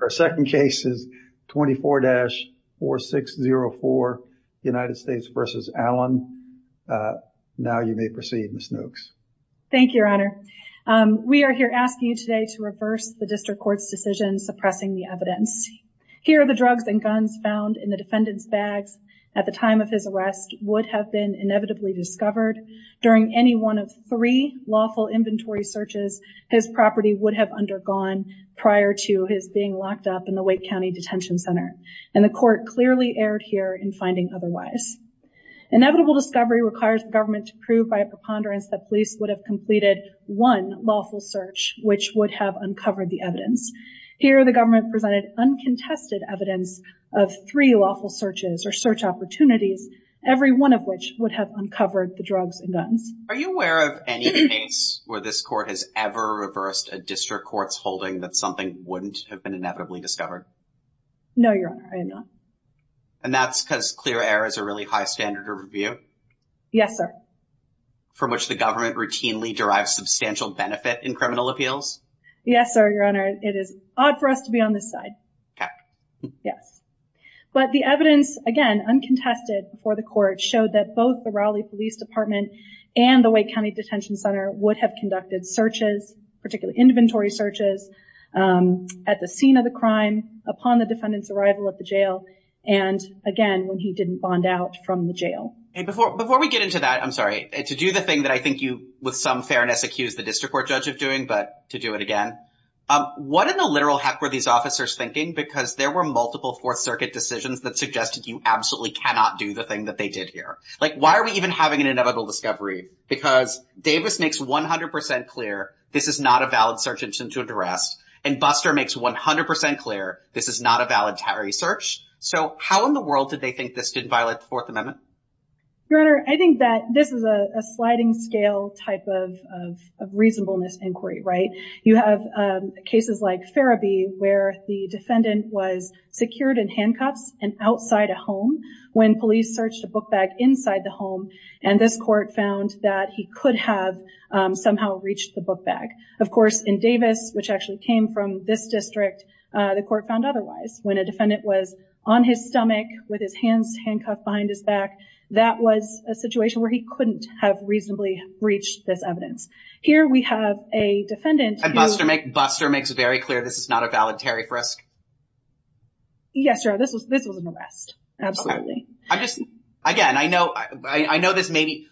Our second case is 24-4604 United States v. Allen. Now you may proceed, Ms. Nooks. Thank you, your honor. We are here asking you today to reverse the district court's decision suppressing the evidence. Here are the drugs and guns found in the defendant's bags at the time of his arrest would have been inevitably discovered during any one of three lawful inventory searches his property would have undergone prior to his being locked up in the Wake County Detention Center and the court clearly erred here in finding otherwise. Inevitable discovery requires the government to prove by a preponderance that police would have completed one lawful search which would have uncovered the evidence. Here the government presented uncontested evidence of three lawful searches or search opportunities, every one of which would have uncovered the drugs and guns. Are you aware of any case where this court has ever reversed a district court's holding that something wouldn't have been inevitably discovered? No, your honor, I am not. And that's because clear error is a really high standard of review? Yes, sir. From which the government routinely derives substantial benefit in criminal appeals? Yes, sir, your honor. It is odd for us to be on this side. Okay. Yes, but the evidence again uncontested before the court showed that both the Raleigh Police Department and the Wake County Detention Center would have conducted searches, particularly inventory searches, at the scene of the crime upon the defendant's arrival at the jail and again when he didn't bond out from the jail. And before we get into that, I'm sorry, to do the thing that I think you with some fairness accused the district court judge of doing, but to do it again, what in the literal heck were these thinking? Because there were multiple Fourth Circuit decisions that suggested you absolutely cannot do the thing that they did here. Like, why are we even having an inevitable discovery? Because Davis makes 100% clear this is not a valid search engine to address, and Buster makes 100% clear this is not a valid search. So how in the world did they think this didn't violate the Fourth Amendment? Your honor, I think that this is a sliding scale type of reasonableness inquiry, right? You have cases like Farrabee where the defendant was secured in handcuffs and outside a home when police searched a book bag inside the home, and this court found that he could have somehow reached the book bag. Of course, in Davis, which actually came from this district, the court found otherwise. When a defendant was on his stomach with his hands handcuffed behind his back, that was a situation where he couldn't have reasonably breached this evidence. Here we have a defendant... And Buster makes very clear this is not a valid tariff risk? Yes, your honor. This was an arrest. Absolutely. Again, I know this may be...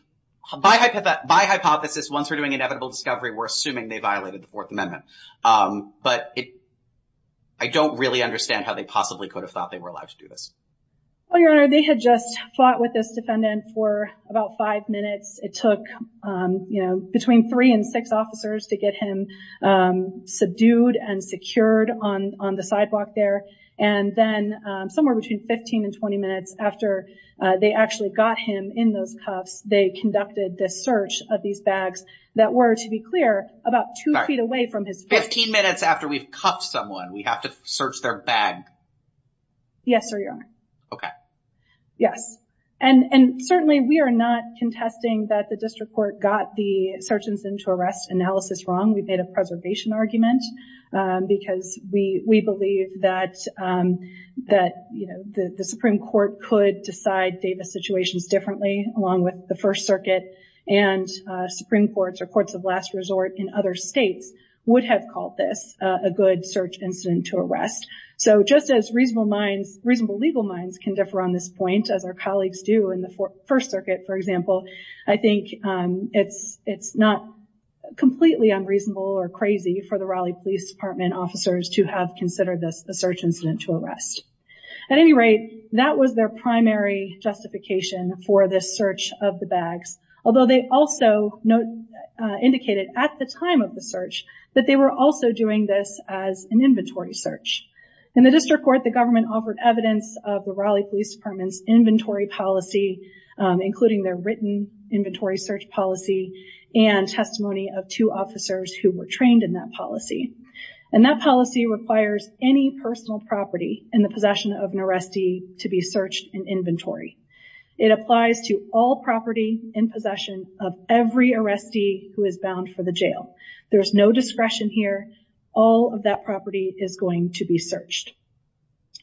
My hypothesis, once we're doing inevitable discovery, we're assuming they violated the Fourth Amendment. But I don't really understand how they possibly could have thought they were allowed to do this. Well, your honor, they had just fought with this defendant for about five minutes. It took between three and six officers to get him subdued and secured on the sidewalk there. And then somewhere between 15 and 20 minutes after they actually got him in those cuffs, they conducted this search of these bags that were, to be clear, about two feet away from his face. Fifteen minutes after we've cuffed someone, we have to search their bag? Yes, sir, your honor. Okay. Yes. And certainly we are not contesting that the district court got the search incident to arrest analysis wrong. We've made a preservation argument because we believe that the Supreme Court could decide Davis situations differently, along with the First Circuit and Supreme Courts or courts of last resort in other states would have called this a good search incident to arrest. So just as reasonable legal minds can differ on this point, as our colleagues do in the First Circuit, for example, I think it's not completely unreasonable or crazy for the Raleigh Police Department officers to have considered this a search incident to arrest. At any rate, that was their primary justification for this search of the bags. Although they also indicated at the time of the search that they were also doing this as an inventory search. In the district court, the government offered evidence of the Raleigh Police Department's inventory policy, including their written inventory search policy and testimony of two officers who were trained in that policy. And that policy requires any personal property in the possession of an arrestee to be searched in inventory. It applies to all property in possession of every arrestee who is bound for the jail. There's no discretion here. All of that property is going to be searched.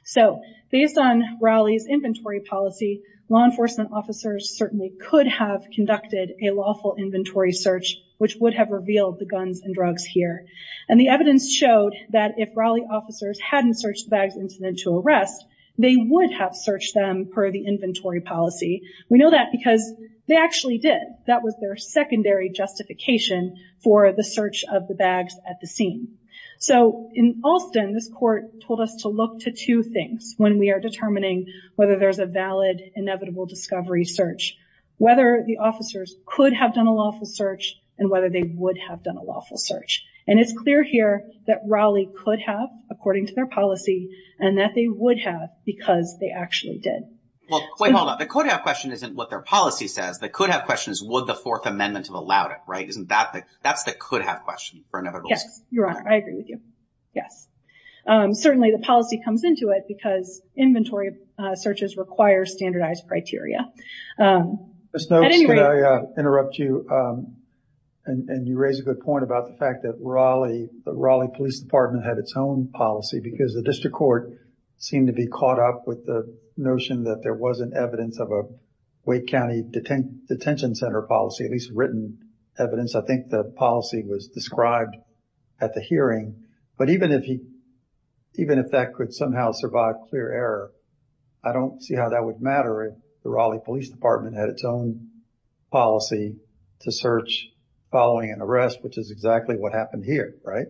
So based on Raleigh's inventory policy, law enforcement officers certainly could have conducted a lawful inventory search, which would have revealed the guns and drugs here. And the evidence showed that if Raleigh officers hadn't searched the bags incident to arrest, they would have searched them per the policy. We know that because they actually did. That was their secondary justification for the search of the bags at the scene. So in Alston, this court told us to look to two things when we are determining whether there's a valid, inevitable discovery search, whether the officers could have done a lawful search and whether they would have done a lawful search. And it's clear here that Raleigh could have, according to their policy, and that they would have because they actually did. Well, wait, hold on. The could have question isn't what their policy says. The could have question is would the Fourth Amendment have allowed it, right? Isn't that the, that's the could have question for an inevitable search? Yes, Your Honor. I agree with you. Yes. Certainly the policy comes into it because inventory searches require standardized criteria. Ms. Nopes, could I interrupt you? And you raise a good point about the fact that Raleigh, the Raleigh Police Department had its own policy because the district court seemed to be caught up with the notion that there wasn't evidence of a Wake County detention center policy, at least written evidence. I think the policy was described at the hearing, but even if he, even if that could somehow survive clear error, I don't see how that would matter if the Raleigh Police Department had its own policy to search following an arrest, which is exactly what happened here, right?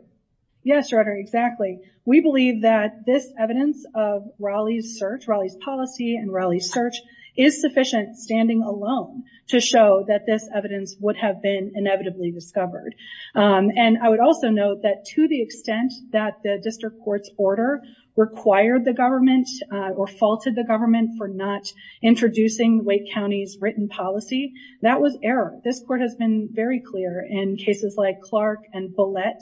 Yes, Your Honor. Exactly. We believe that this evidence of Raleigh's search, Raleigh's policy and Raleigh's search is sufficient standing alone to show that this evidence would have been inevitably discovered. And I would also note that to the extent that the district court's order required the government or faulted the government for not introducing Wake County's written policy, that was error. This court has been very clear in cases like Clark and Bullitt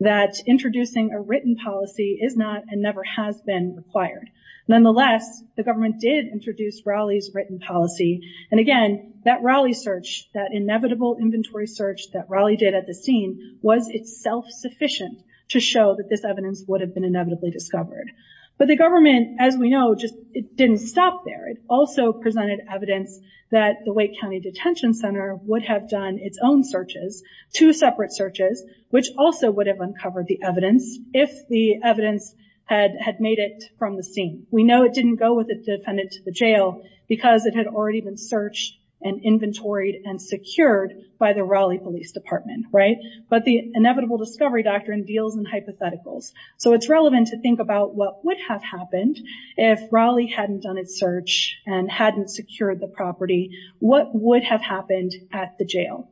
that introducing a written policy is not and never has been required. Nonetheless, the government did introduce Raleigh's written policy. And again, that Raleigh search, that inevitable inventory search that Raleigh did at the scene was itself sufficient to show that this evidence would have been inevitably discovered. But the government, as we know, just didn't stop there. It also presented evidence that the Wake County Detention Center would have done its own searches, two separate searches, which also would have uncovered the evidence if the evidence had made it from the scene. We know it didn't go with the defendant to the jail because it had already been searched and inventoried and secured by the Raleigh Police Department, right? But the inevitable discovery doctrine deals in hypotheticals. So it's relevant to think about what would have happened if Raleigh hadn't done its search and hadn't secured the property. What would have happened at the jail?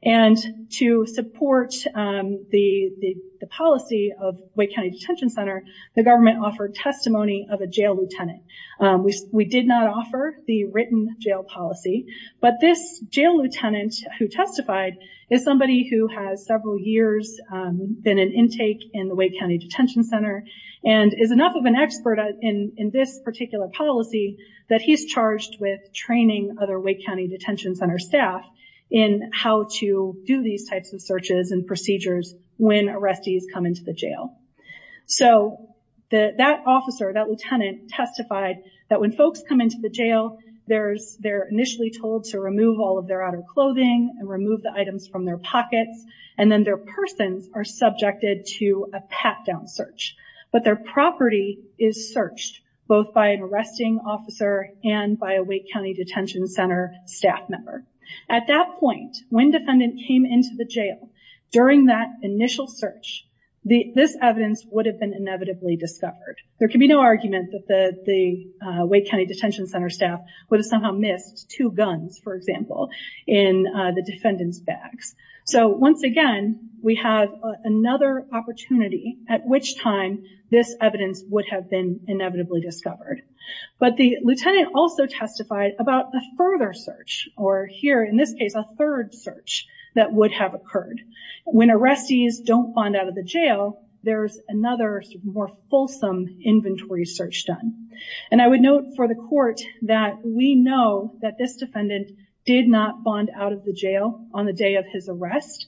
And to support the policy of Wake County Detention Center, the government offered testimony of a jail lieutenant. We did not offer the written jail policy, but this jail lieutenant who testified is somebody who has several years been in intake in the Wake County Detention Center and is enough of an expert in this particular policy that he's charged with training other Wake County Detention Center staff in how to do these types of searches and procedures when arrestees come into the jail. So that officer, that lieutenant, testified that when folks come into the jail, they're initially told to remove all of their outer clothing and remove the items from their pockets, and then their persons are subjected to a pat-down search. But their property is searched both by an arresting officer and by a Wake County Detention Center staff member. At that point, when defendant came into the jail, during that initial search, this evidence would have been inevitably discovered. There can be no argument that the Wake County Detention Center staff would have somehow missed two guns, for example, in the defendant's bags. So once again, we have another opportunity at which time this evidence would have been inevitably discovered. But the lieutenant also testified about a further search, or here in this case, a third search that would have occurred. When arrestees don't find out of the jail, there's another more fulsome inventory search done. And I would note for the court that we know that this defendant did not bond out of the jail on the day of his arrest.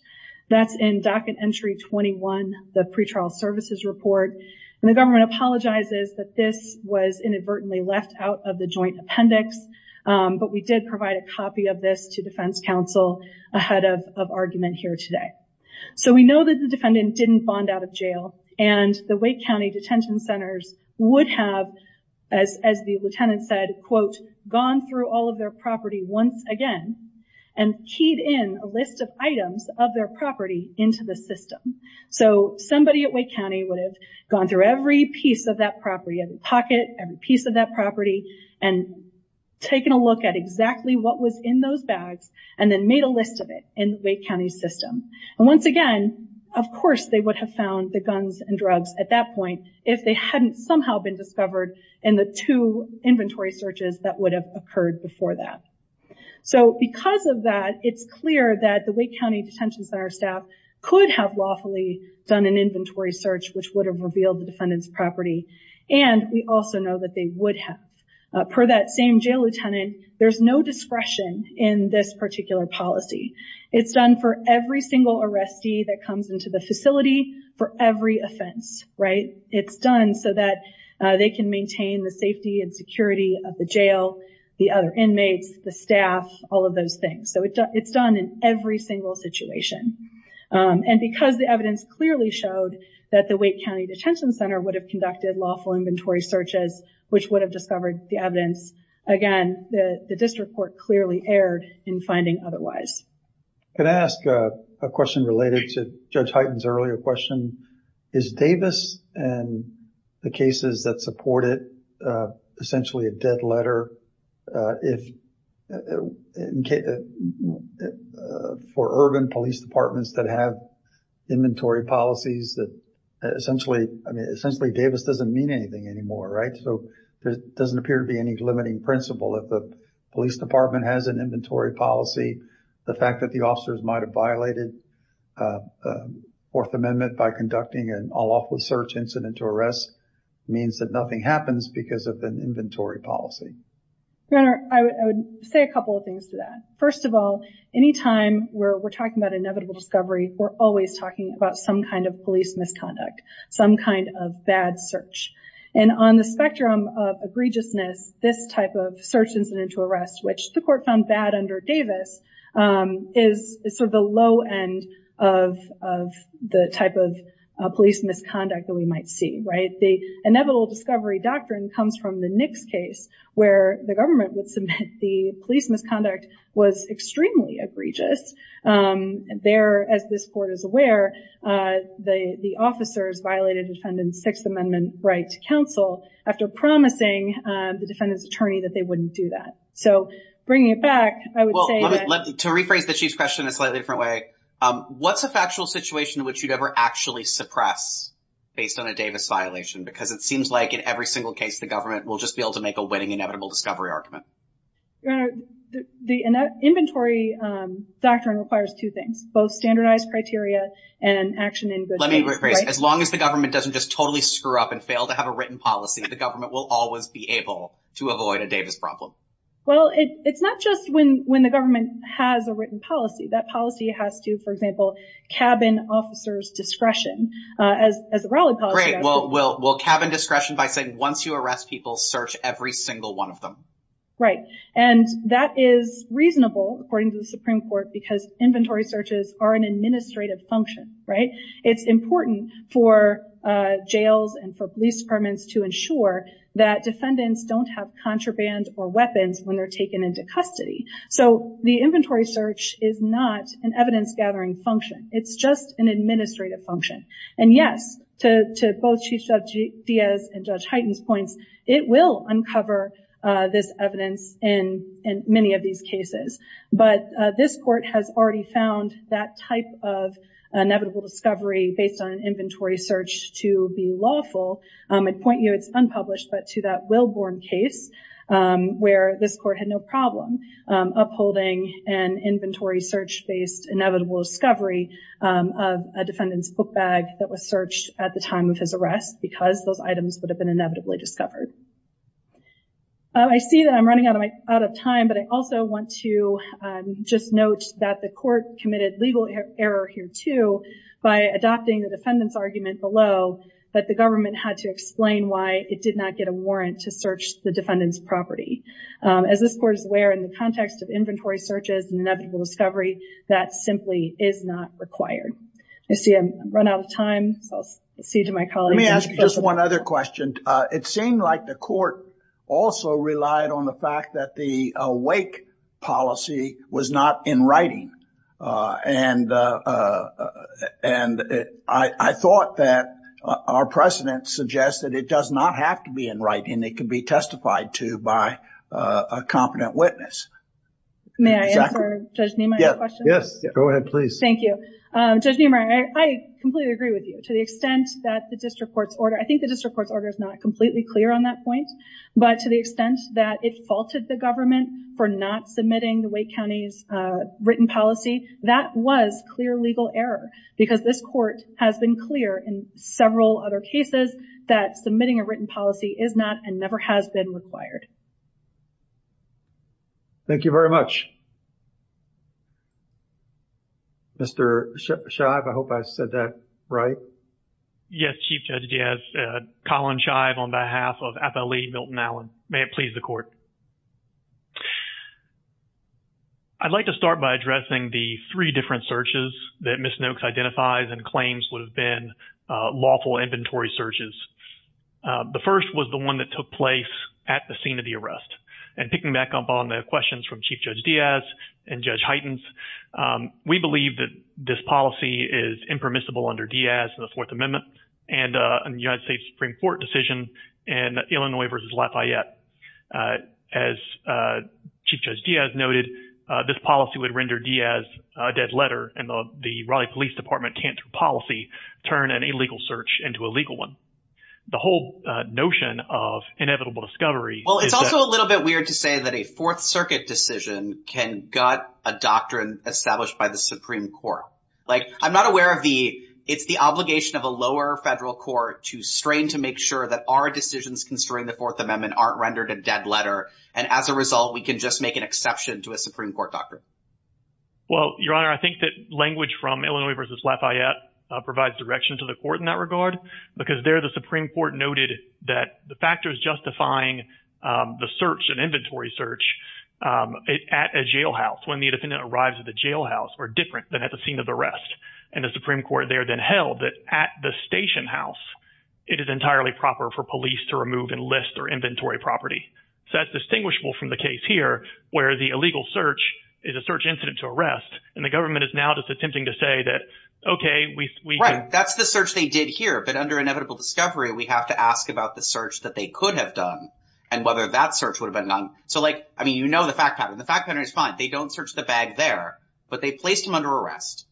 That's in docket entry 21, the pretrial services report. And the government apologizes that this was inadvertently left out of the joint appendix, but we did provide a copy of this to defense counsel ahead of argument here today. So we know that the defendant didn't bond out of jail, and the Wake County Detention Centers would have, as the lieutenant said, quote, gone through all of their property once again, and keyed in a list of items of their property into the system. So somebody at Wake County would have gone through every piece of that property, every pocket, every piece of that property, and taken a look at exactly what was in those bags, and then made a list of it in the Wake County system. And once again, of course they would have found the guns and drugs at that point if they hadn't somehow been discovered in the two inventory searches that would have occurred before that. So because of that, it's clear that the Wake County Detention Center staff could have lawfully done an inventory search which would have revealed the defendant's property, and we also know that they would have. Per that same jail lieutenant, there's no discretion in this particular policy. It's done for every single arrestee that comes into the facility for every offense, right? It's done so that they can maintain the safety and security of the jail, the other inmates, the staff, all of those things. So it's done in every single situation. And because the evidence clearly showed that the Wake County Detention Center would have conducted lawful inventory searches which would have discovered the evidence, again, the district clearly erred in finding otherwise. Can I ask a question related to Judge Hyten's earlier question? Is Davis and the cases that support it essentially a dead letter? For urban police departments that have inventory policies, essentially Davis doesn't mean anything anymore, right? So there doesn't appear to be any limiting principle if the police department has an inventory policy. The fact that the officers might have violated Fourth Amendment by conducting an all-awful search incident to arrest means that nothing happens because of an inventory policy. Your Honor, I would say a couple of things to that. First of all, anytime we're talking about inevitable discovery, we're always talking about some kind of police misconduct, some kind of bad search. And on the spectrum of egregiousness, this type of search incident to arrest, which the court found bad under Davis, is sort of the low end of the type of police misconduct that we might see, right? The inevitable discovery doctrine comes from the Nix case where the government would submit the police misconduct was extremely egregious. There, as this court is aware, the officers violated defendant's amendment right to counsel after promising the defendant's attorney that they wouldn't do that. So bringing it back, I would say that... Well, to rephrase the Chief's question in a slightly different way, what's a factual situation in which you'd ever actually suppress based on a Davis violation? Because it seems like in every single case, the government will just be able to make a winning inevitable discovery argument. Your Honor, the inventory doctrine requires two things, both standardized criteria and action in good faith. Let me rephrase. As long as the government doesn't just totally screw up and fail to have a written policy, the government will always be able to avoid a Davis problem. Well, it's not just when the government has a written policy. That policy has to, for example, cabin officers discretion as a Raleigh policy. Great. Well, cabin discretion by saying once you arrest people, search every single one of them. Right. And that is reasonable, according to the Supreme Court, because inventory searches are an administrative function, right? It's important for jails and for police permits to ensure that defendants don't have contraband or weapons when they're taken into custody. So the inventory search is not an evidence gathering function. It's just an administrative function. And yes, to both Chief Judge Diaz and Judge Hyten's points, it will uncover this evidence in many of these cases. But this court has already found that type of inevitable discovery based on an inventory search to be lawful. I'd point you, it's unpublished, but to that Willborn case where this court had no problem upholding an inventory search-based inevitable discovery of a defendant's book bag that was searched at the time of his arrest because those items would have been inevitably discovered. I see that I'm running out of time, but I also want to just note that the court committed legal error here, too, by adopting the defendant's argument below that the government had to explain why it did not get a warrant to search the defendant's property. As this court is aware in the context of inventory searches and inevitable discovery, that simply is not required. I see I've run out of time, so I'll cede to my colleague. Let me ask you just one other question. It seemed like the court also relied on the fact that the wake policy was not in writing. And I thought that our precedent suggests that it does not have to be in writing. It can be testified to by a competent witness. May I answer Judge Niemeyer's question? Yes, go ahead, please. Thank you. Judge Niemeyer, I completely agree with you to the extent that the district court's order, I think the district court's order is not completely clear on that point, but to the extent that it faulted the government for not submitting the Wake County's written policy, that was clear legal error because this court has been clear in several other cases that submitting a written policy is not and never has been required. Thank you very much. Mr. Shive, I hope I said that right. Yes, Chief Judge Diaz. Colin Shive on behalf of FLE Milton Allen. May it please the court. I'd like to start by addressing the three different searches that Ms. Noakes identifies and claims would have been lawful inventory searches. The first was the one that took place at the scene of the arrest. And picking back up on the questions from Chief Judge Diaz and Judge Heitens, we believe that this policy is impermissible under Diaz and the Fourth Amendment and the United States Supreme Court decision in Illinois v. Lafayette. As Chief Judge Diaz noted, this policy would render Diaz a dead letter and the Raleigh Police Department can't, through policy, turn an illegal search into a legal one. The whole notion of inevitable discovery— Well, it's also a little bit weird to say that a Fourth Circuit decision can gut a doctrine established by the Supreme Court. Like, I'm not aware of the—it's the obligation of a lower federal court to strain to make sure that our decisions concerning the Fourth Amendment aren't rendered a dead letter. And as a result, we can just make an exception to a Supreme Court doctrine. Well, Your Honor, I think that language from Illinois v. Lafayette provides direction to the court in that regard because there the Supreme Court noted that the factors justifying the search, an inventory search, at a jailhouse, when the defendant arrives at the jailhouse, are different than at the scene of the arrest. And the Supreme Court there then held that at the station house, it is entirely proper for police to remove and list their inventory property. So that's distinguishable from the case here, where the illegal search is a search incident to arrest, and the government is now just attempting to say that, OK, we— Right. That's the search they did here. But under inevitable discovery, we have to ask about the search that they could have done and whether that search would have been done. So, like, I mean, you know the fact pattern. The fact pattern is fine. They don't search the bag there, but they placed him under arrest.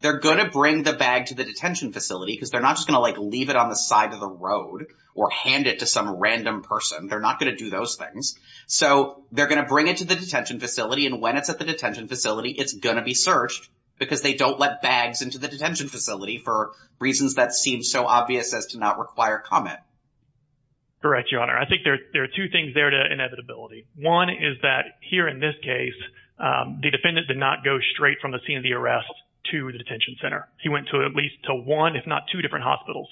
They're going to bring the bag to the detention facility because they're not just going to, like, leave it on the side of the road or hand it to some random person. They're not going to do those things. So they're going to bring it to the detention facility, and when it's at the detention facility, it's going to be searched because they don't let bags into the detention facility for reasons that seem so obvious as to not require comment. Correct, Your Honor. I think there are two things there to inevitability. One is that here in this case, the defendant did not go straight from the scene of the arrest to the detention center. He went to at least to one, if not two, different hospitals,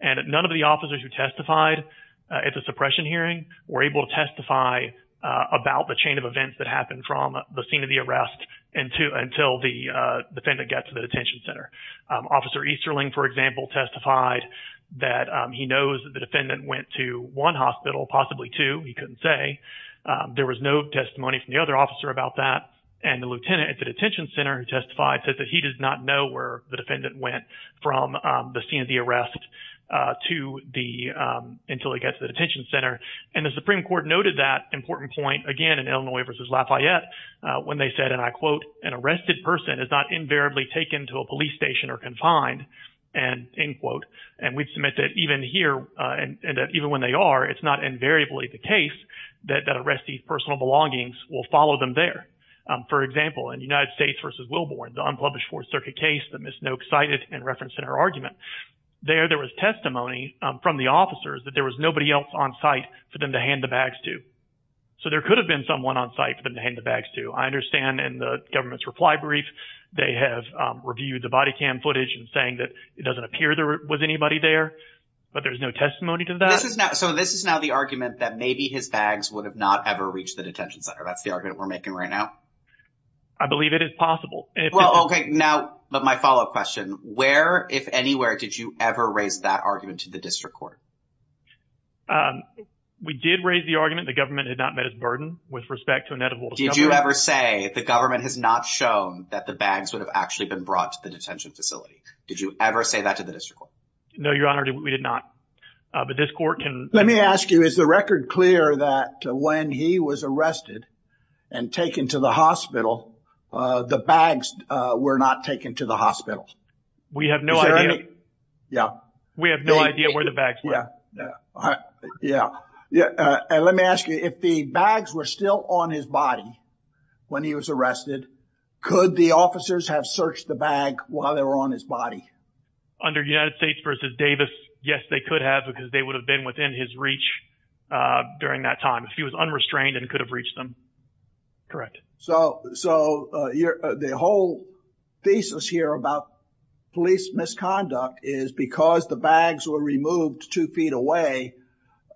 and none of the officers who testified at the suppression hearing were able to testify about the chain of events that happened from the scene of the arrest until the defendant got to the detention center. Officer Easterling, for example, testified that he knows that the defendant went to one hospital, possibly two. He couldn't say. There was no testimony from the other officer about that, and the lieutenant at the detention center who testified said that he does not know where the defendant went from the scene of the arrest until he gets to the detention center, and the Supreme Court noted that important point again in Illinois v. Lafayette when they said, and I quote, an arrested person is not invariably taken to a police station or confined, and we submit that even here and even when they are, it's not invariably the case that arrestees' personal belongings will follow them there. For example, in United States v. Wilbourn, the unpublished Fourth Circuit case that Ms. Noakes cited and referenced in her argument, there was testimony from the officers that there was nobody else on site for them to hand the bags to. So there could have been someone on site for them to hand the bags to. I understand in the government's reply brief they have reviewed the body cam footage and saying that it doesn't appear there was anybody there, but there's no testimony to that. So this is now the argument that maybe his bags would have not ever reached the detention center. That's the argument we're making right now? I believe it is possible. Well, okay, now my follow-up question. Where, if anywhere, did you ever raise that argument to the district court? We did raise the argument. The government had met its burden with respect to inedible discoveries. Did you ever say the government has not shown that the bags would have actually been brought to the detention facility? Did you ever say that to the district court? No, Your Honor, we did not. But this court can... Let me ask you, is the record clear that when he was arrested and taken to the hospital, the bags were not taken to the hospital? We have no idea. Yeah. We have no idea where the bags were. Yeah. Yeah. And let me ask you, if the bags were still on his body when he was arrested, could the officers have searched the bag while they were on his body? Under United States v. Davis, yes, they could have because they would have been within his reach during that time if he was unrestrained and could have reached them. Correct. So the whole thesis here about police misconduct is because the bags were removed two feet away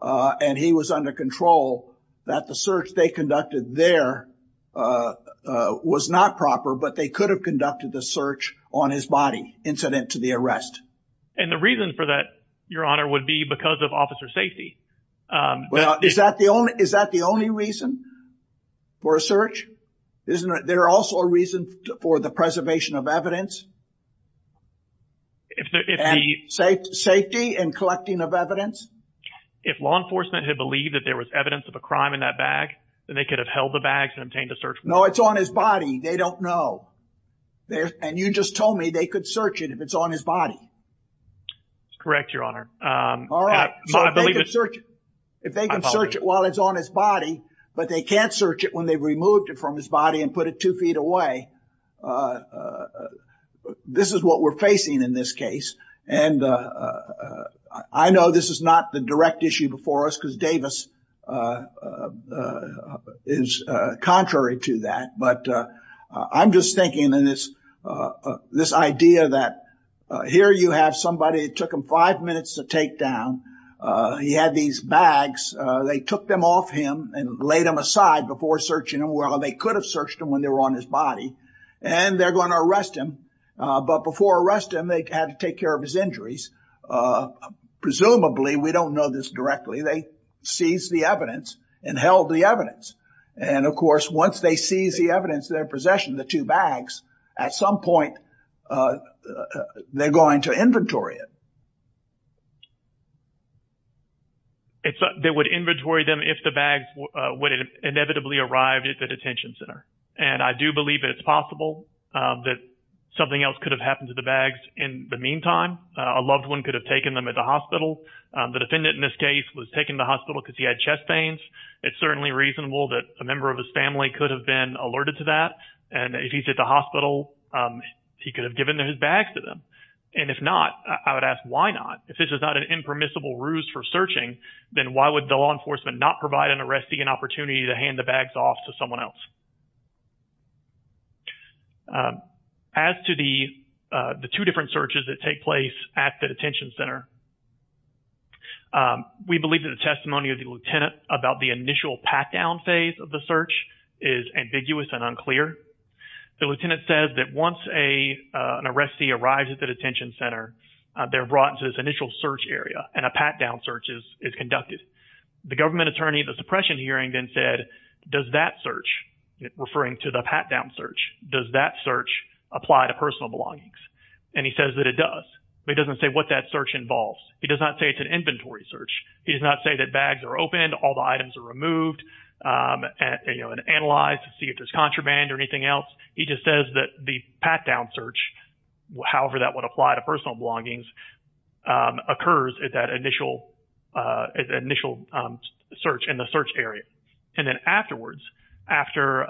and he was under control, that the search they conducted there was not proper, but they could have conducted the search on his body incident to the arrest. And the reason for that, Your Honor, would be because of officer safety. Well, is that the only reason for a search? Isn't there also a reason for the preservation of evidence? And safety and collecting of evidence? If law enforcement had believed that there was evidence of a crime in that bag, then they could have held the bags and obtained a search warrant. No, it's on his body. They don't know. And you just told me they could search it if it's on his body. Correct, Your Honor. All right. So if they can search it while it's on his body, but they can't search it when they've removed it from his body and put it two feet away, this is what we're facing in this case. And I know this is not the direct issue before us because Davis is contrary to that. But I'm just thinking in this idea that here you have somebody, it took him five minutes to take down. He had these bags. They took them off him and laid him aside before searching him. Well, they could have searched him when they were on his body and they're going to arrest him. But before arrest him, they had to take care of his injuries. Presumably, we don't know this directly. They seized the evidence and held the evidence. And of course, once they seize the evidence, their possession, the two bags, at some point they're going to inventory it. They would inventory them if the bags would inevitably arrive at the detention center. And I do believe it's possible that something else could have happened to the bags in the meantime. A loved one could have taken them at the hospital. The defendant in this case was taken to the hospital because he had chest pains. It's certainly reasonable that a member of his family could have been alerted to that. And if he's at the hospital, he could have given his bags to them. And if not, I would ask why not? If this is not an impermissible ruse for searching, then why would the law enforcement not provide an arrestee an opportunity to hand the bags off to someone else? As to the two different searches that take place at the detention center, we believe that the testimony of the lieutenant about the initial pat-down phase of the search is ambiguous and unclear. The lieutenant says that once an arrestee arrives at the detention center, they're brought into this initial search area and a pat-down search is conducted. The government attorney at the suppression hearing then said, does that search, referring to the pat-down search, does that search apply to personal belongings? And he says that it does. But he doesn't say what that search involves. He does not say it's an inventory search. He does not say that bags are opened, all the items are removed, and, you know, analyzed to see if there's contraband or anything else. He just says that the pat-down search, however that would apply to personal belongings, occurs at that initial search in the search area. And then afterwards, after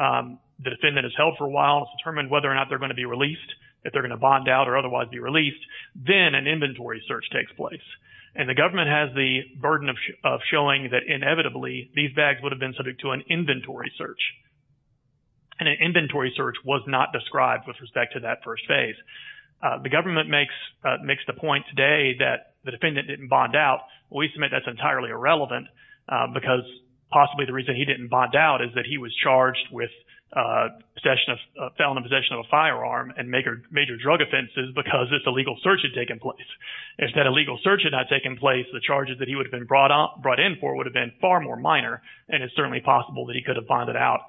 the defendant is held for a while and it's determined whether or not they're going to be released, if they're going to bond out or otherwise be released, then an inventory search takes place. And the government has the burden of showing that inevitably these bags would have been subject to an inventory search. And an inventory search was not described with respect to that first phase. The government makes the point today that the defendant didn't bond out. We submit that's entirely irrelevant because possibly the reason he didn't bond out is that he was charged with possession of, felon in possession of a firearm and major drug offenses because this illegal search had taken place. If that illegal search had not taken place, the charges that he would have been brought in for would have been far more minor. And it's certainly possible that he could have bonded out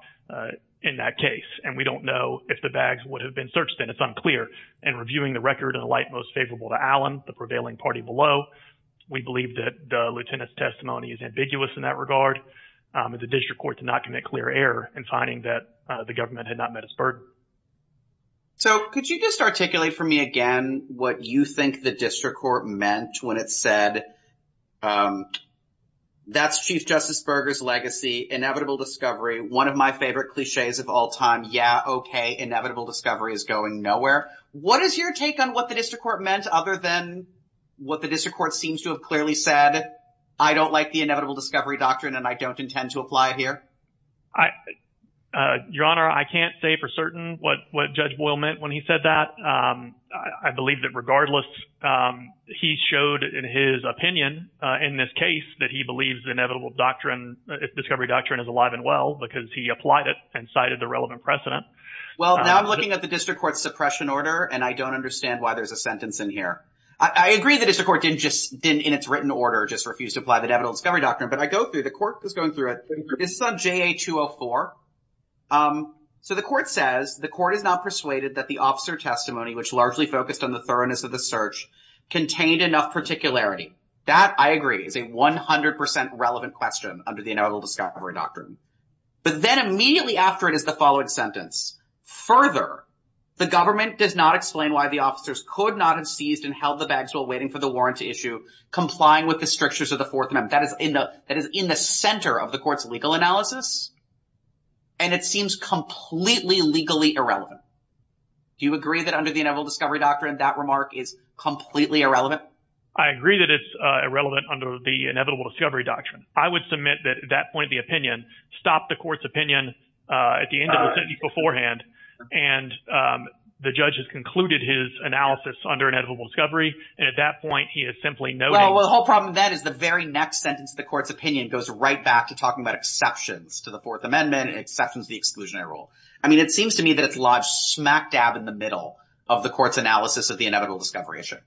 in that case. And we don't know if the bags would have been searched in. It's unclear. And reviewing the record in the light most favorable to Allen, the prevailing party below, we believe that the lieutenant's testimony is ambiguous in that regard. The district court did not commit clear error in finding that the government had not met its burden. So could you just articulate for me again what you think the district court meant when it said um, that's Chief Justice Berger's legacy, inevitable discovery, one of my favorite cliches of all time. Yeah, OK, inevitable discovery is going nowhere. What is your take on what the district court meant other than what the district court seems to have clearly said? I don't like the inevitable discovery doctrine and I don't intend to apply it here. I, Your Honor, I can't say for certain what Judge Boyle meant when he said that. I believe that regardless, he showed in his opinion in this case that he believes the inevitable doctrine, discovery doctrine is alive and well because he applied it and cited the relevant precedent. Well, now I'm looking at the district court's suppression order and I don't understand why there's a sentence in here. I agree the district court didn't just, in its written order, just refuse to apply the inevitable discovery doctrine. But I go through, the court is going through it. This is on JA 204. So the court says the court is not persuaded that the officer testimony, which largely focused on the thoroughness of the search, contained enough particularity. That, I agree, is a 100 percent relevant question under the inevitable discovery doctrine. But then immediately after it is the following sentence. Further, the government does not explain why the officers could not have seized and held the bags while waiting for the warrant to issue, complying with the strictures of the Fourth Amendment. That is in the center of the court's legal analysis. And it seems completely legally irrelevant. Do you agree that under the inevitable discovery doctrine, that remark is completely irrelevant? I agree that it's irrelevant under the inevitable discovery doctrine. I would submit that at that point the opinion stopped the court's opinion at the end of the sentence beforehand. And the judge has concluded his analysis under inevitable discovery. And at that point, he is simply noting. Well, the whole problem with that is the very next sentence, the court's opinion goes right back to talking about exceptions to the Fourth Amendment and exceptions to the exclusionary rule. I mean, it seems to me that it's lodged smack dab in the middle of the court's analysis of the inevitable discovery issue.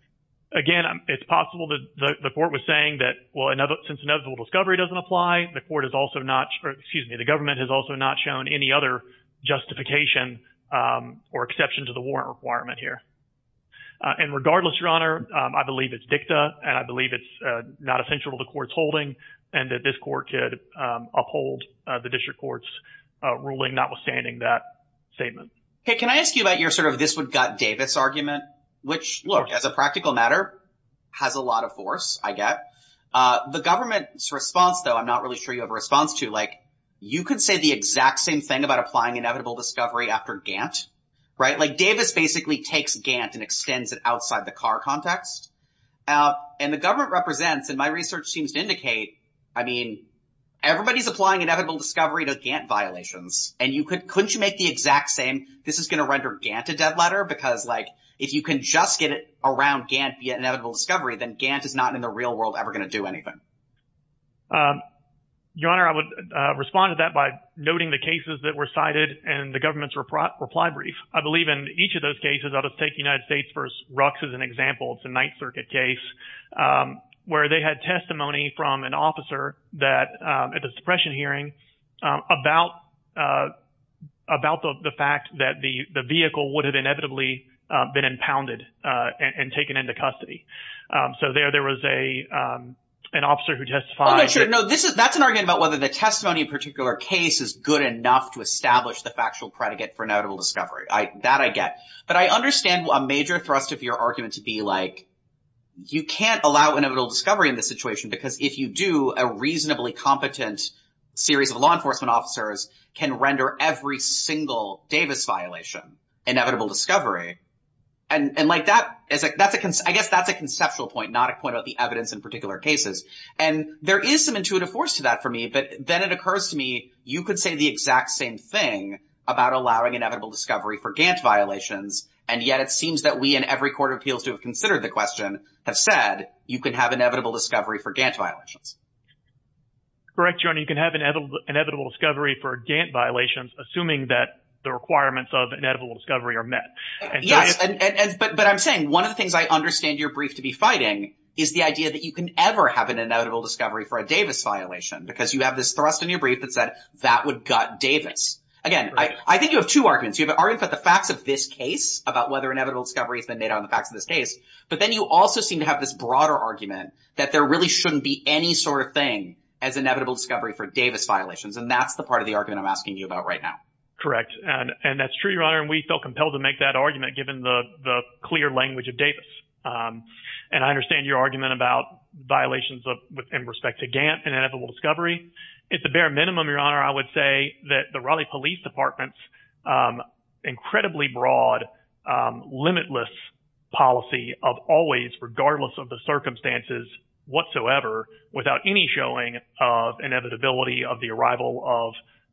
Again, it's possible that the court was saying that, well, since inevitable discovery doesn't apply, the court has also not, or excuse me, the government has also not shown any other justification or exception to the warrant requirement here. And regardless, Your Honor, I believe it's dicta, and I believe it's not essential to the court's holding, and that this court could uphold the district court's ruling, notwithstanding that statement. Hey, can I ask you about your sort of this would gut Davis argument? Which, look, as a practical matter, has a lot of force, I get. The government's response, though, I'm not really sure you have a response to, like, you could say the exact same thing about applying inevitable discovery after Gantt, right? Like, Davis basically takes Gantt and extends it outside the Carr context. Now, and the government represents, and my research seems to indicate, I mean, everybody's applying inevitable discovery to Gantt violations, and you could, couldn't you make the exact same, this is going to render Gantt a dead letter? Because, like, if you can just get it around Gantt via inevitable discovery, then Gantt is not in the real world ever going to do anything. Your Honor, I would respond to that by noting the cases that were cited and the government's reply brief. I believe in each of those cases, I'll just take United States v. Rooks as an example. It's a Ninth Circuit case where they had testimony from an officer that, at the suppression hearing, about the fact that the vehicle would have inevitably been impounded and taken into custody. So there, there was an officer who testified. I'm not sure. No, this is, that's an argument about whether the testimony in a particular case is good enough to establish the factual predicate for inevitable discovery. That I get. But I understand a major thrust of your argument to be like, you can't allow inevitable discovery in this situation because if you do, a reasonably competent series of law enforcement officers can render every single Davis violation inevitable discovery. And, and like, that is a, that's a, I guess that's a conceptual point, not a point about the evidence in particular cases. And there is some intuitive force to that for me. But then it occurs to me, you could say the exact same thing about allowing inevitable discovery for Gantt violations. And yet it seems that we in every court of appeals to have considered the question have said you can have inevitable discovery for Gantt violations. Correct, your honor. You can have an inevitable discovery for Gantt violations, assuming that the requirements of inevitable discovery are met. Yes, but I'm saying one of the things I understand your brief to be fighting is the idea that you can ever have an inevitable discovery for a Davis violation because you have this thrust in your brief that said that would gut Davis. Again, I think you have two arguments. You have an argument for the facts of this case about whether inevitable discovery has been made on the facts of this case. But then you also seem to have this broader argument that there really shouldn't be any sort of thing as inevitable discovery for Davis violations. And that's the part of the argument I'm asking you about right now. Correct. And that's true, your honor. And we felt compelled to make that argument given the clear language of Davis. And I understand your argument about violations of, in respect to Gantt and inevitable discovery. It's a bare minimum, your honor. I would say that the Raleigh Police Department's incredibly broad, limitless policy of always, regardless of the circumstances whatsoever, without any showing of inevitability of the arrival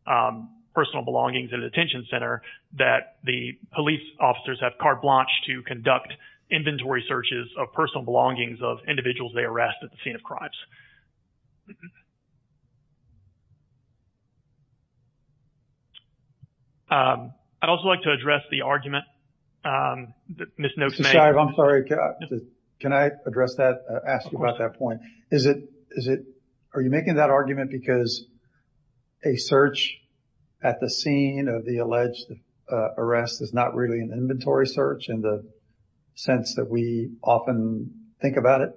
of personal belongings in a detention center that the police officers have carte blanche to conduct inventory searches of personal belongings of individuals they arrest at the scene of crimes. I'd also like to address the argument that Ms. Noakes made. I'm sorry, can I address that, ask you about that point? Is it, are you making that argument because a search at the scene of the alleged arrest is not really an inventory search in the sense that we often think about it?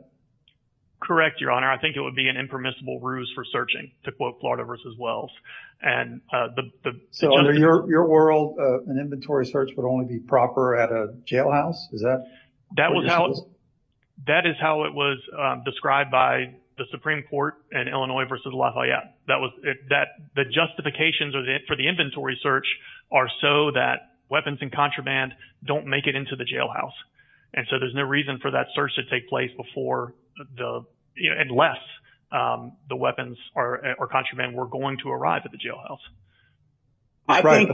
Correct, your honor. I think it would be an impermissible ruse for searching. To quote Florida versus Wells. So under your world, an inventory search would only be proper at a jailhouse? Is that what this was? That is how it was described by the Supreme Court in Illinois versus Lafayette. That was, the justifications for the inventory search are so that weapons and contraband don't make it into the jailhouse. And so there's no reason for that search to take place before the, unless the weapons or contraband were going to arrive at the jailhouse. Right,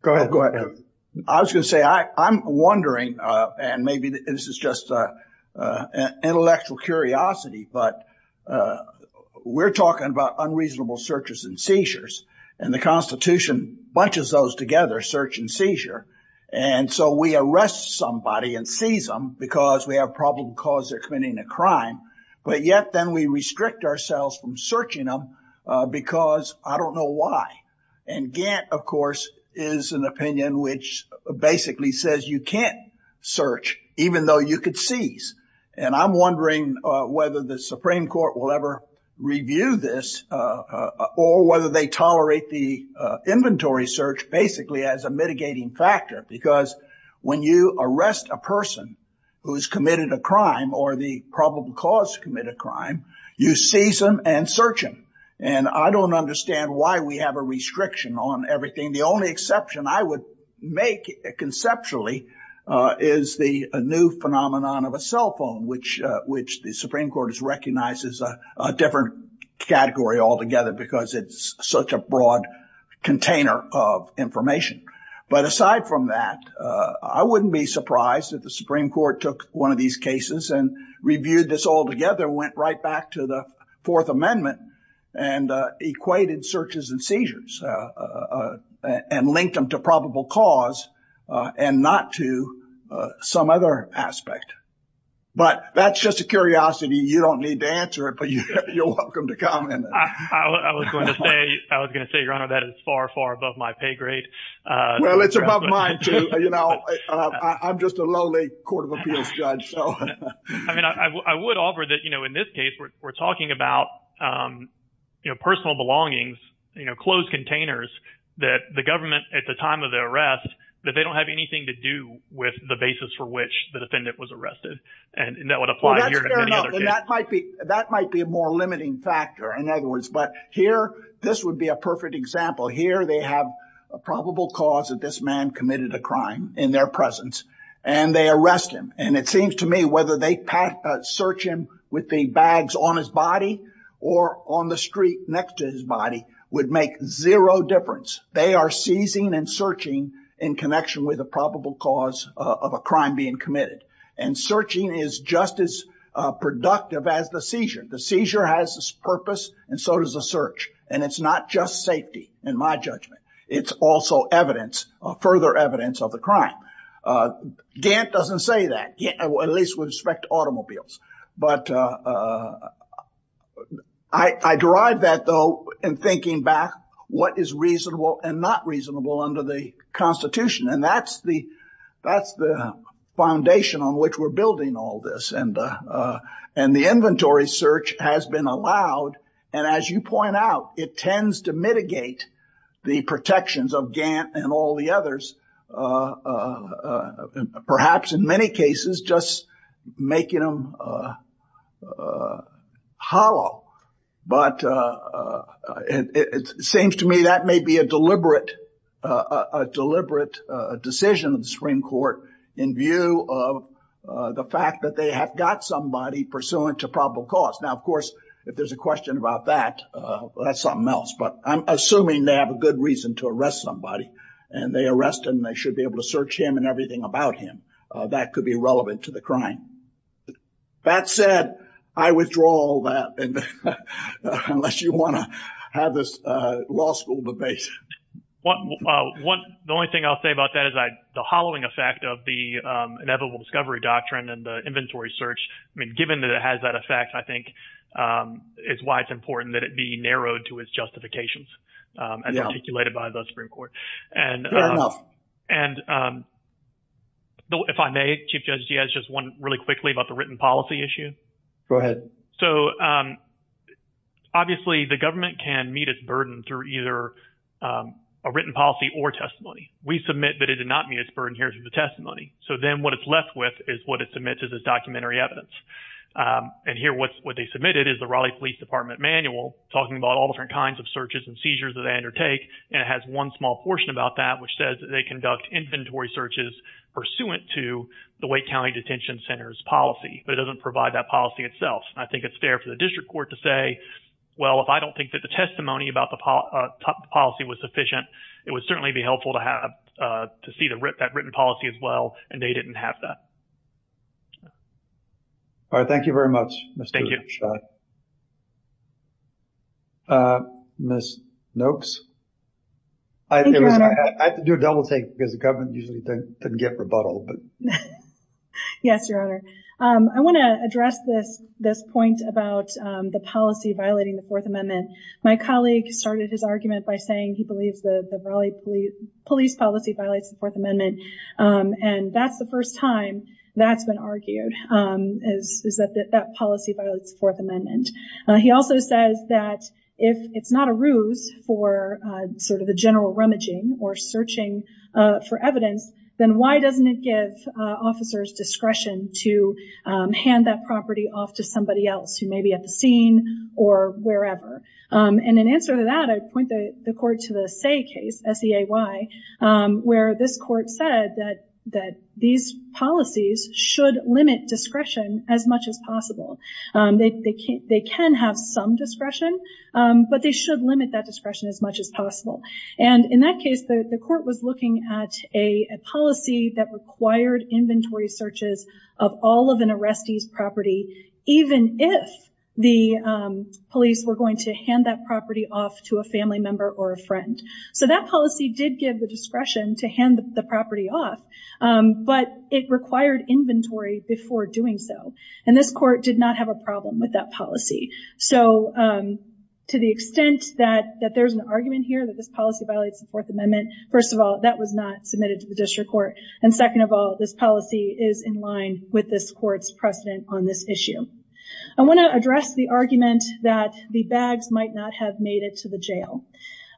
go ahead, go ahead. I was going to say, I'm wondering, and maybe this is just intellectual curiosity, but we're talking about unreasonable searches and seizures and the Constitution bunches those together, search and seizure. And so we arrest somebody and seize them because we have a problem because they're committing a crime. But yet then we restrict ourselves from searching them because I don't know why. And Gantt, of course, is an opinion which basically says you can't search, even though you could seize. And I'm wondering whether the Supreme Court will ever review this or whether they tolerate the inventory search basically as a mitigating factor. Because when you arrest a person who has committed a crime or the probable cause to commit a crime, you seize them and search them. And I don't understand why we have a restriction on everything. The only exception I would make conceptually is the new phenomenon of a cell phone, which the Supreme Court has recognized as a different category altogether because it's such a broad container of information. But aside from that, I wouldn't be surprised if the Supreme Court took one of these cases and reviewed this all together, went right back to the Fourth Amendment and equated searches and seizures and linked them to probable cause and not to some other aspect. But that's just a curiosity. You don't need to answer it, but you're welcome to comment. I was going to say, Your Honor, that is far, far above my pay grade. Well, it's above mine, too. You know, I'm just a lowly court of appeals judge. So I mean, I would offer that, you know, in this case, we're talking about, you know, personal belongings, you know, closed containers that the government at the time of the arrest, that they don't have anything to do with the basis for which the defendant was arrested. And that would apply here. And that might be a more limiting factor, in other words. But here, this would be a perfect example. Here, they have a probable cause that this man committed a crime in their presence and they arrest him. And it seems to me whether they search him with the bags on his body or on the street next to his body would make zero difference. They are seizing and searching in connection with a probable cause of a crime being committed. And searching is just as productive as the seizure. The seizure has its purpose and so does the search. And it's not just safety, in my judgment. It's also evidence, further evidence of the crime. Gant doesn't say that, at least with respect to automobiles. But I derive that, though, in thinking back, what is reasonable and not reasonable under the Constitution. And that's the foundation on which we're building all this. And the inventory search has been allowed. And as you point out, it tends to mitigate the protections of Gant and all the others. Perhaps, in many cases, just making them hollow. But it seems to me that may be a deliberate decision of the Supreme Court in view of the fact that they have got somebody pursuant to probable cause. Now, of course, if there's a question about that, that's something else. But I'm assuming they have a good reason to arrest somebody. And they arrest him. They should be able to search him and everything about him. That could be relevant to the crime. That said, I withdraw all that, unless you want to have this law school debate. The only thing I'll say about that is the hollowing effect of the inevitable discovery doctrine and the inventory search, I mean, given that it has that effect, I think it's why it's important that it be narrowed to its justifications and articulated by the Supreme Court. Fair enough. And if I may, Chief Judge Giaz, just one really quickly about the written policy issue. Go ahead. So obviously, the government can meet its burden through either a written policy or testimony. We submit that it did not meet its burden here through the testimony. So then what it's left with is what it submits as its documentary evidence. And here, what they submitted is the Raleigh Police Department manual talking about all different kinds of searches and seizures that they undertake. And it has one small portion about that, which says that they conduct inventory searches pursuant to the Wake County Detention Center's policy. But it doesn't provide that policy itself. I think it's fair for the district court to say, well, if I don't think that the testimony about the policy was sufficient, it would certainly be helpful to have to see that written policy as well. And they didn't have that. All right. Thank you very much. Thank you. Ms. Noakes. I have to do a double take because the government usually doesn't get rebuttal. Yes, Your Honor. I want to address this point about the policy violating the Fourth Amendment. My colleague started his argument by saying he believes the Raleigh police policy violates the Fourth Amendment. And that's the first time that's been argued, is that that policy violates the Fourth Amendment. He also says that if it's not a ruse for sort of a general rummaging or searching for evidence, then why doesn't it give officers discretion to hand that property off to somebody else who may be at the scene or wherever? And in answer to that, I point the court to the Say case, S-E-A-Y, where this court said that these policies should limit discretion as much as possible. They can have some discretion, but they should limit that discretion as much as possible. And in that case, the court was looking at a policy that required inventory searches of all of an arrestee's property, even if the police were going to hand that property off to a family member or a friend. So that policy did give the discretion to hand the property off, but it required inventory before doing so. And this court did not have a problem with that policy. So to the extent that there's an argument here that this policy violates the Fourth Amendment, first of all, that was not submitted to the district court. And second of all, this policy is in line with this court's precedent on this issue. I want to address the argument that the bags might not have made it to the jail.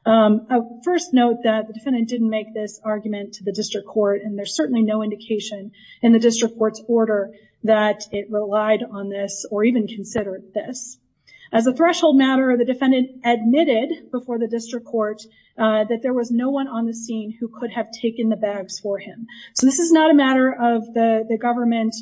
I'll first note that the defendant didn't make this argument to the district court, and there's certainly no indication in the district court's order that it relied on this or even considered this. As a threshold matter, the defendant admitted before the district court that there was no one on the scene who could have taken the bags for him. So this is not a matter of the government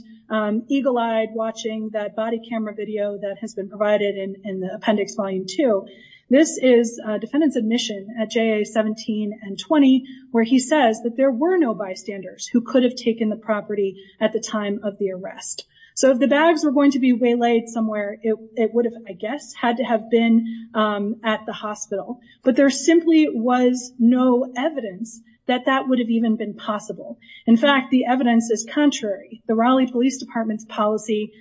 eagle-eyed watching that body camera video that has been provided in the appendix volume two. This is a defendant's admission at JA 17 and 20, where he says that there were no bystanders who could have taken the property at the time of the arrest. So if the bags were going to be waylaid somewhere, it would have, I guess, had to have been at the hospital. But there simply was no evidence that that would have even been possible. In fact, the evidence is contrary. The Raleigh Police Department's policy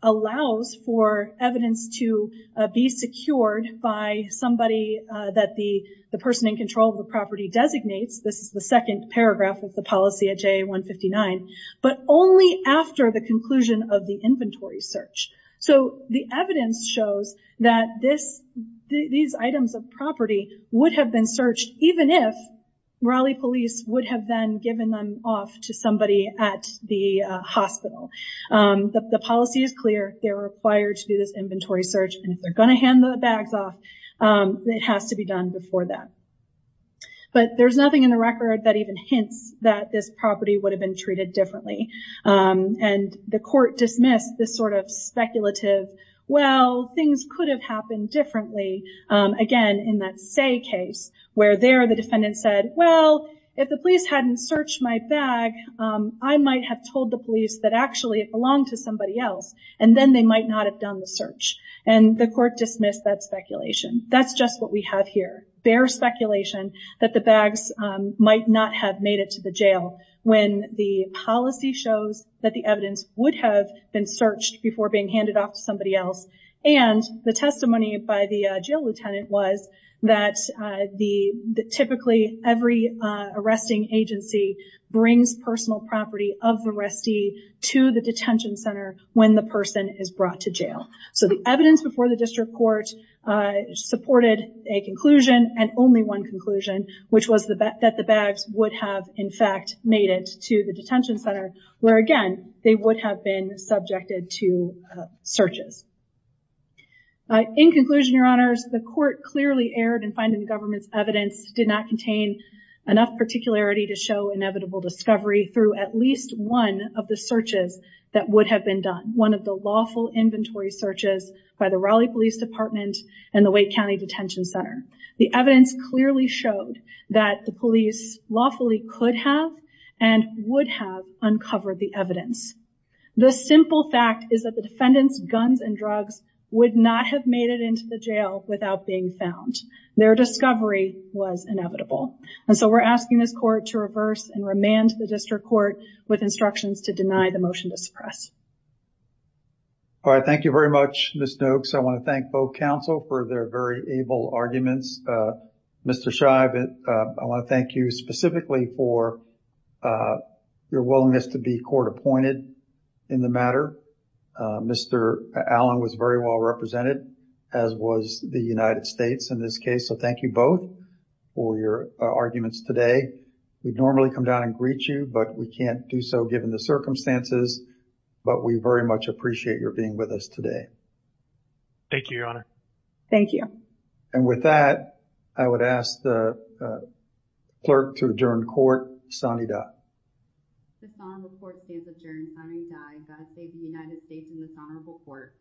allows for evidence to be secured by somebody that the person in control of the property designates. This is the second paragraph of the policy at JA 159. But only after the conclusion of the inventory search. So the evidence shows that these items of property would have been searched even if Raleigh Police would have then given them off to somebody at the hospital. The policy is clear. They're required to do this inventory search. And if they're going to hand the bags off, it has to be done before that. But there's nothing in the record that even hints that this property would have been treated differently. And the court dismissed this sort of speculative, well, things could have happened differently. Again, in that say case, where there the defendant said, well, if the police hadn't searched my bag, I might have told the police that actually it belonged to somebody else. And then they might not have done the search. And the court dismissed that speculation. That's just what we have here. Bare speculation that the bags might not have made it to the jail. When the policy shows that the evidence would have been searched before being handed off to somebody else. And the testimony by the jail lieutenant was that typically every arresting agency brings personal property of the restee to the detention center when the person is brought to jail. So the evidence before the district court supported a conclusion and only one conclusion, which was that the bags would have, in fact, made it to the detention center. Where again, they would have been subjected to searches. In conclusion, your honors, the court clearly erred in finding the government's evidence did not contain enough particularity to show inevitable discovery through at least one of the searches that would have been done. One of the lawful inventory searches by the Raleigh Police Department and the Wake County Detention Center. The evidence clearly showed that the police lawfully could have and would have uncovered the evidence. The simple fact is that the defendants' guns and drugs would not have made it into the jail without being found. Their discovery was inevitable. And so we're asking this court to reverse and remand the district court with instructions to deny the motion to suppress. All right. Thank you very much, Ms. Noakes. I want to thank both counsel for their very able arguments. Mr. Scheib, I want to thank you specifically for your willingness to be court appointed. In the matter, Mr. Allen was very well represented, as was the United States in this case. So thank you both for your arguments today. We'd normally come down and greet you, but we can't do so given the circumstances. But we very much appreciate your being with us today. Thank you, your honor. Thank you. And with that, I would ask the clerk to adjourn court. Sonny Dutt. Dishonorable court stands adjourned. Sonny Dutt, God save the United States and dishonorable court.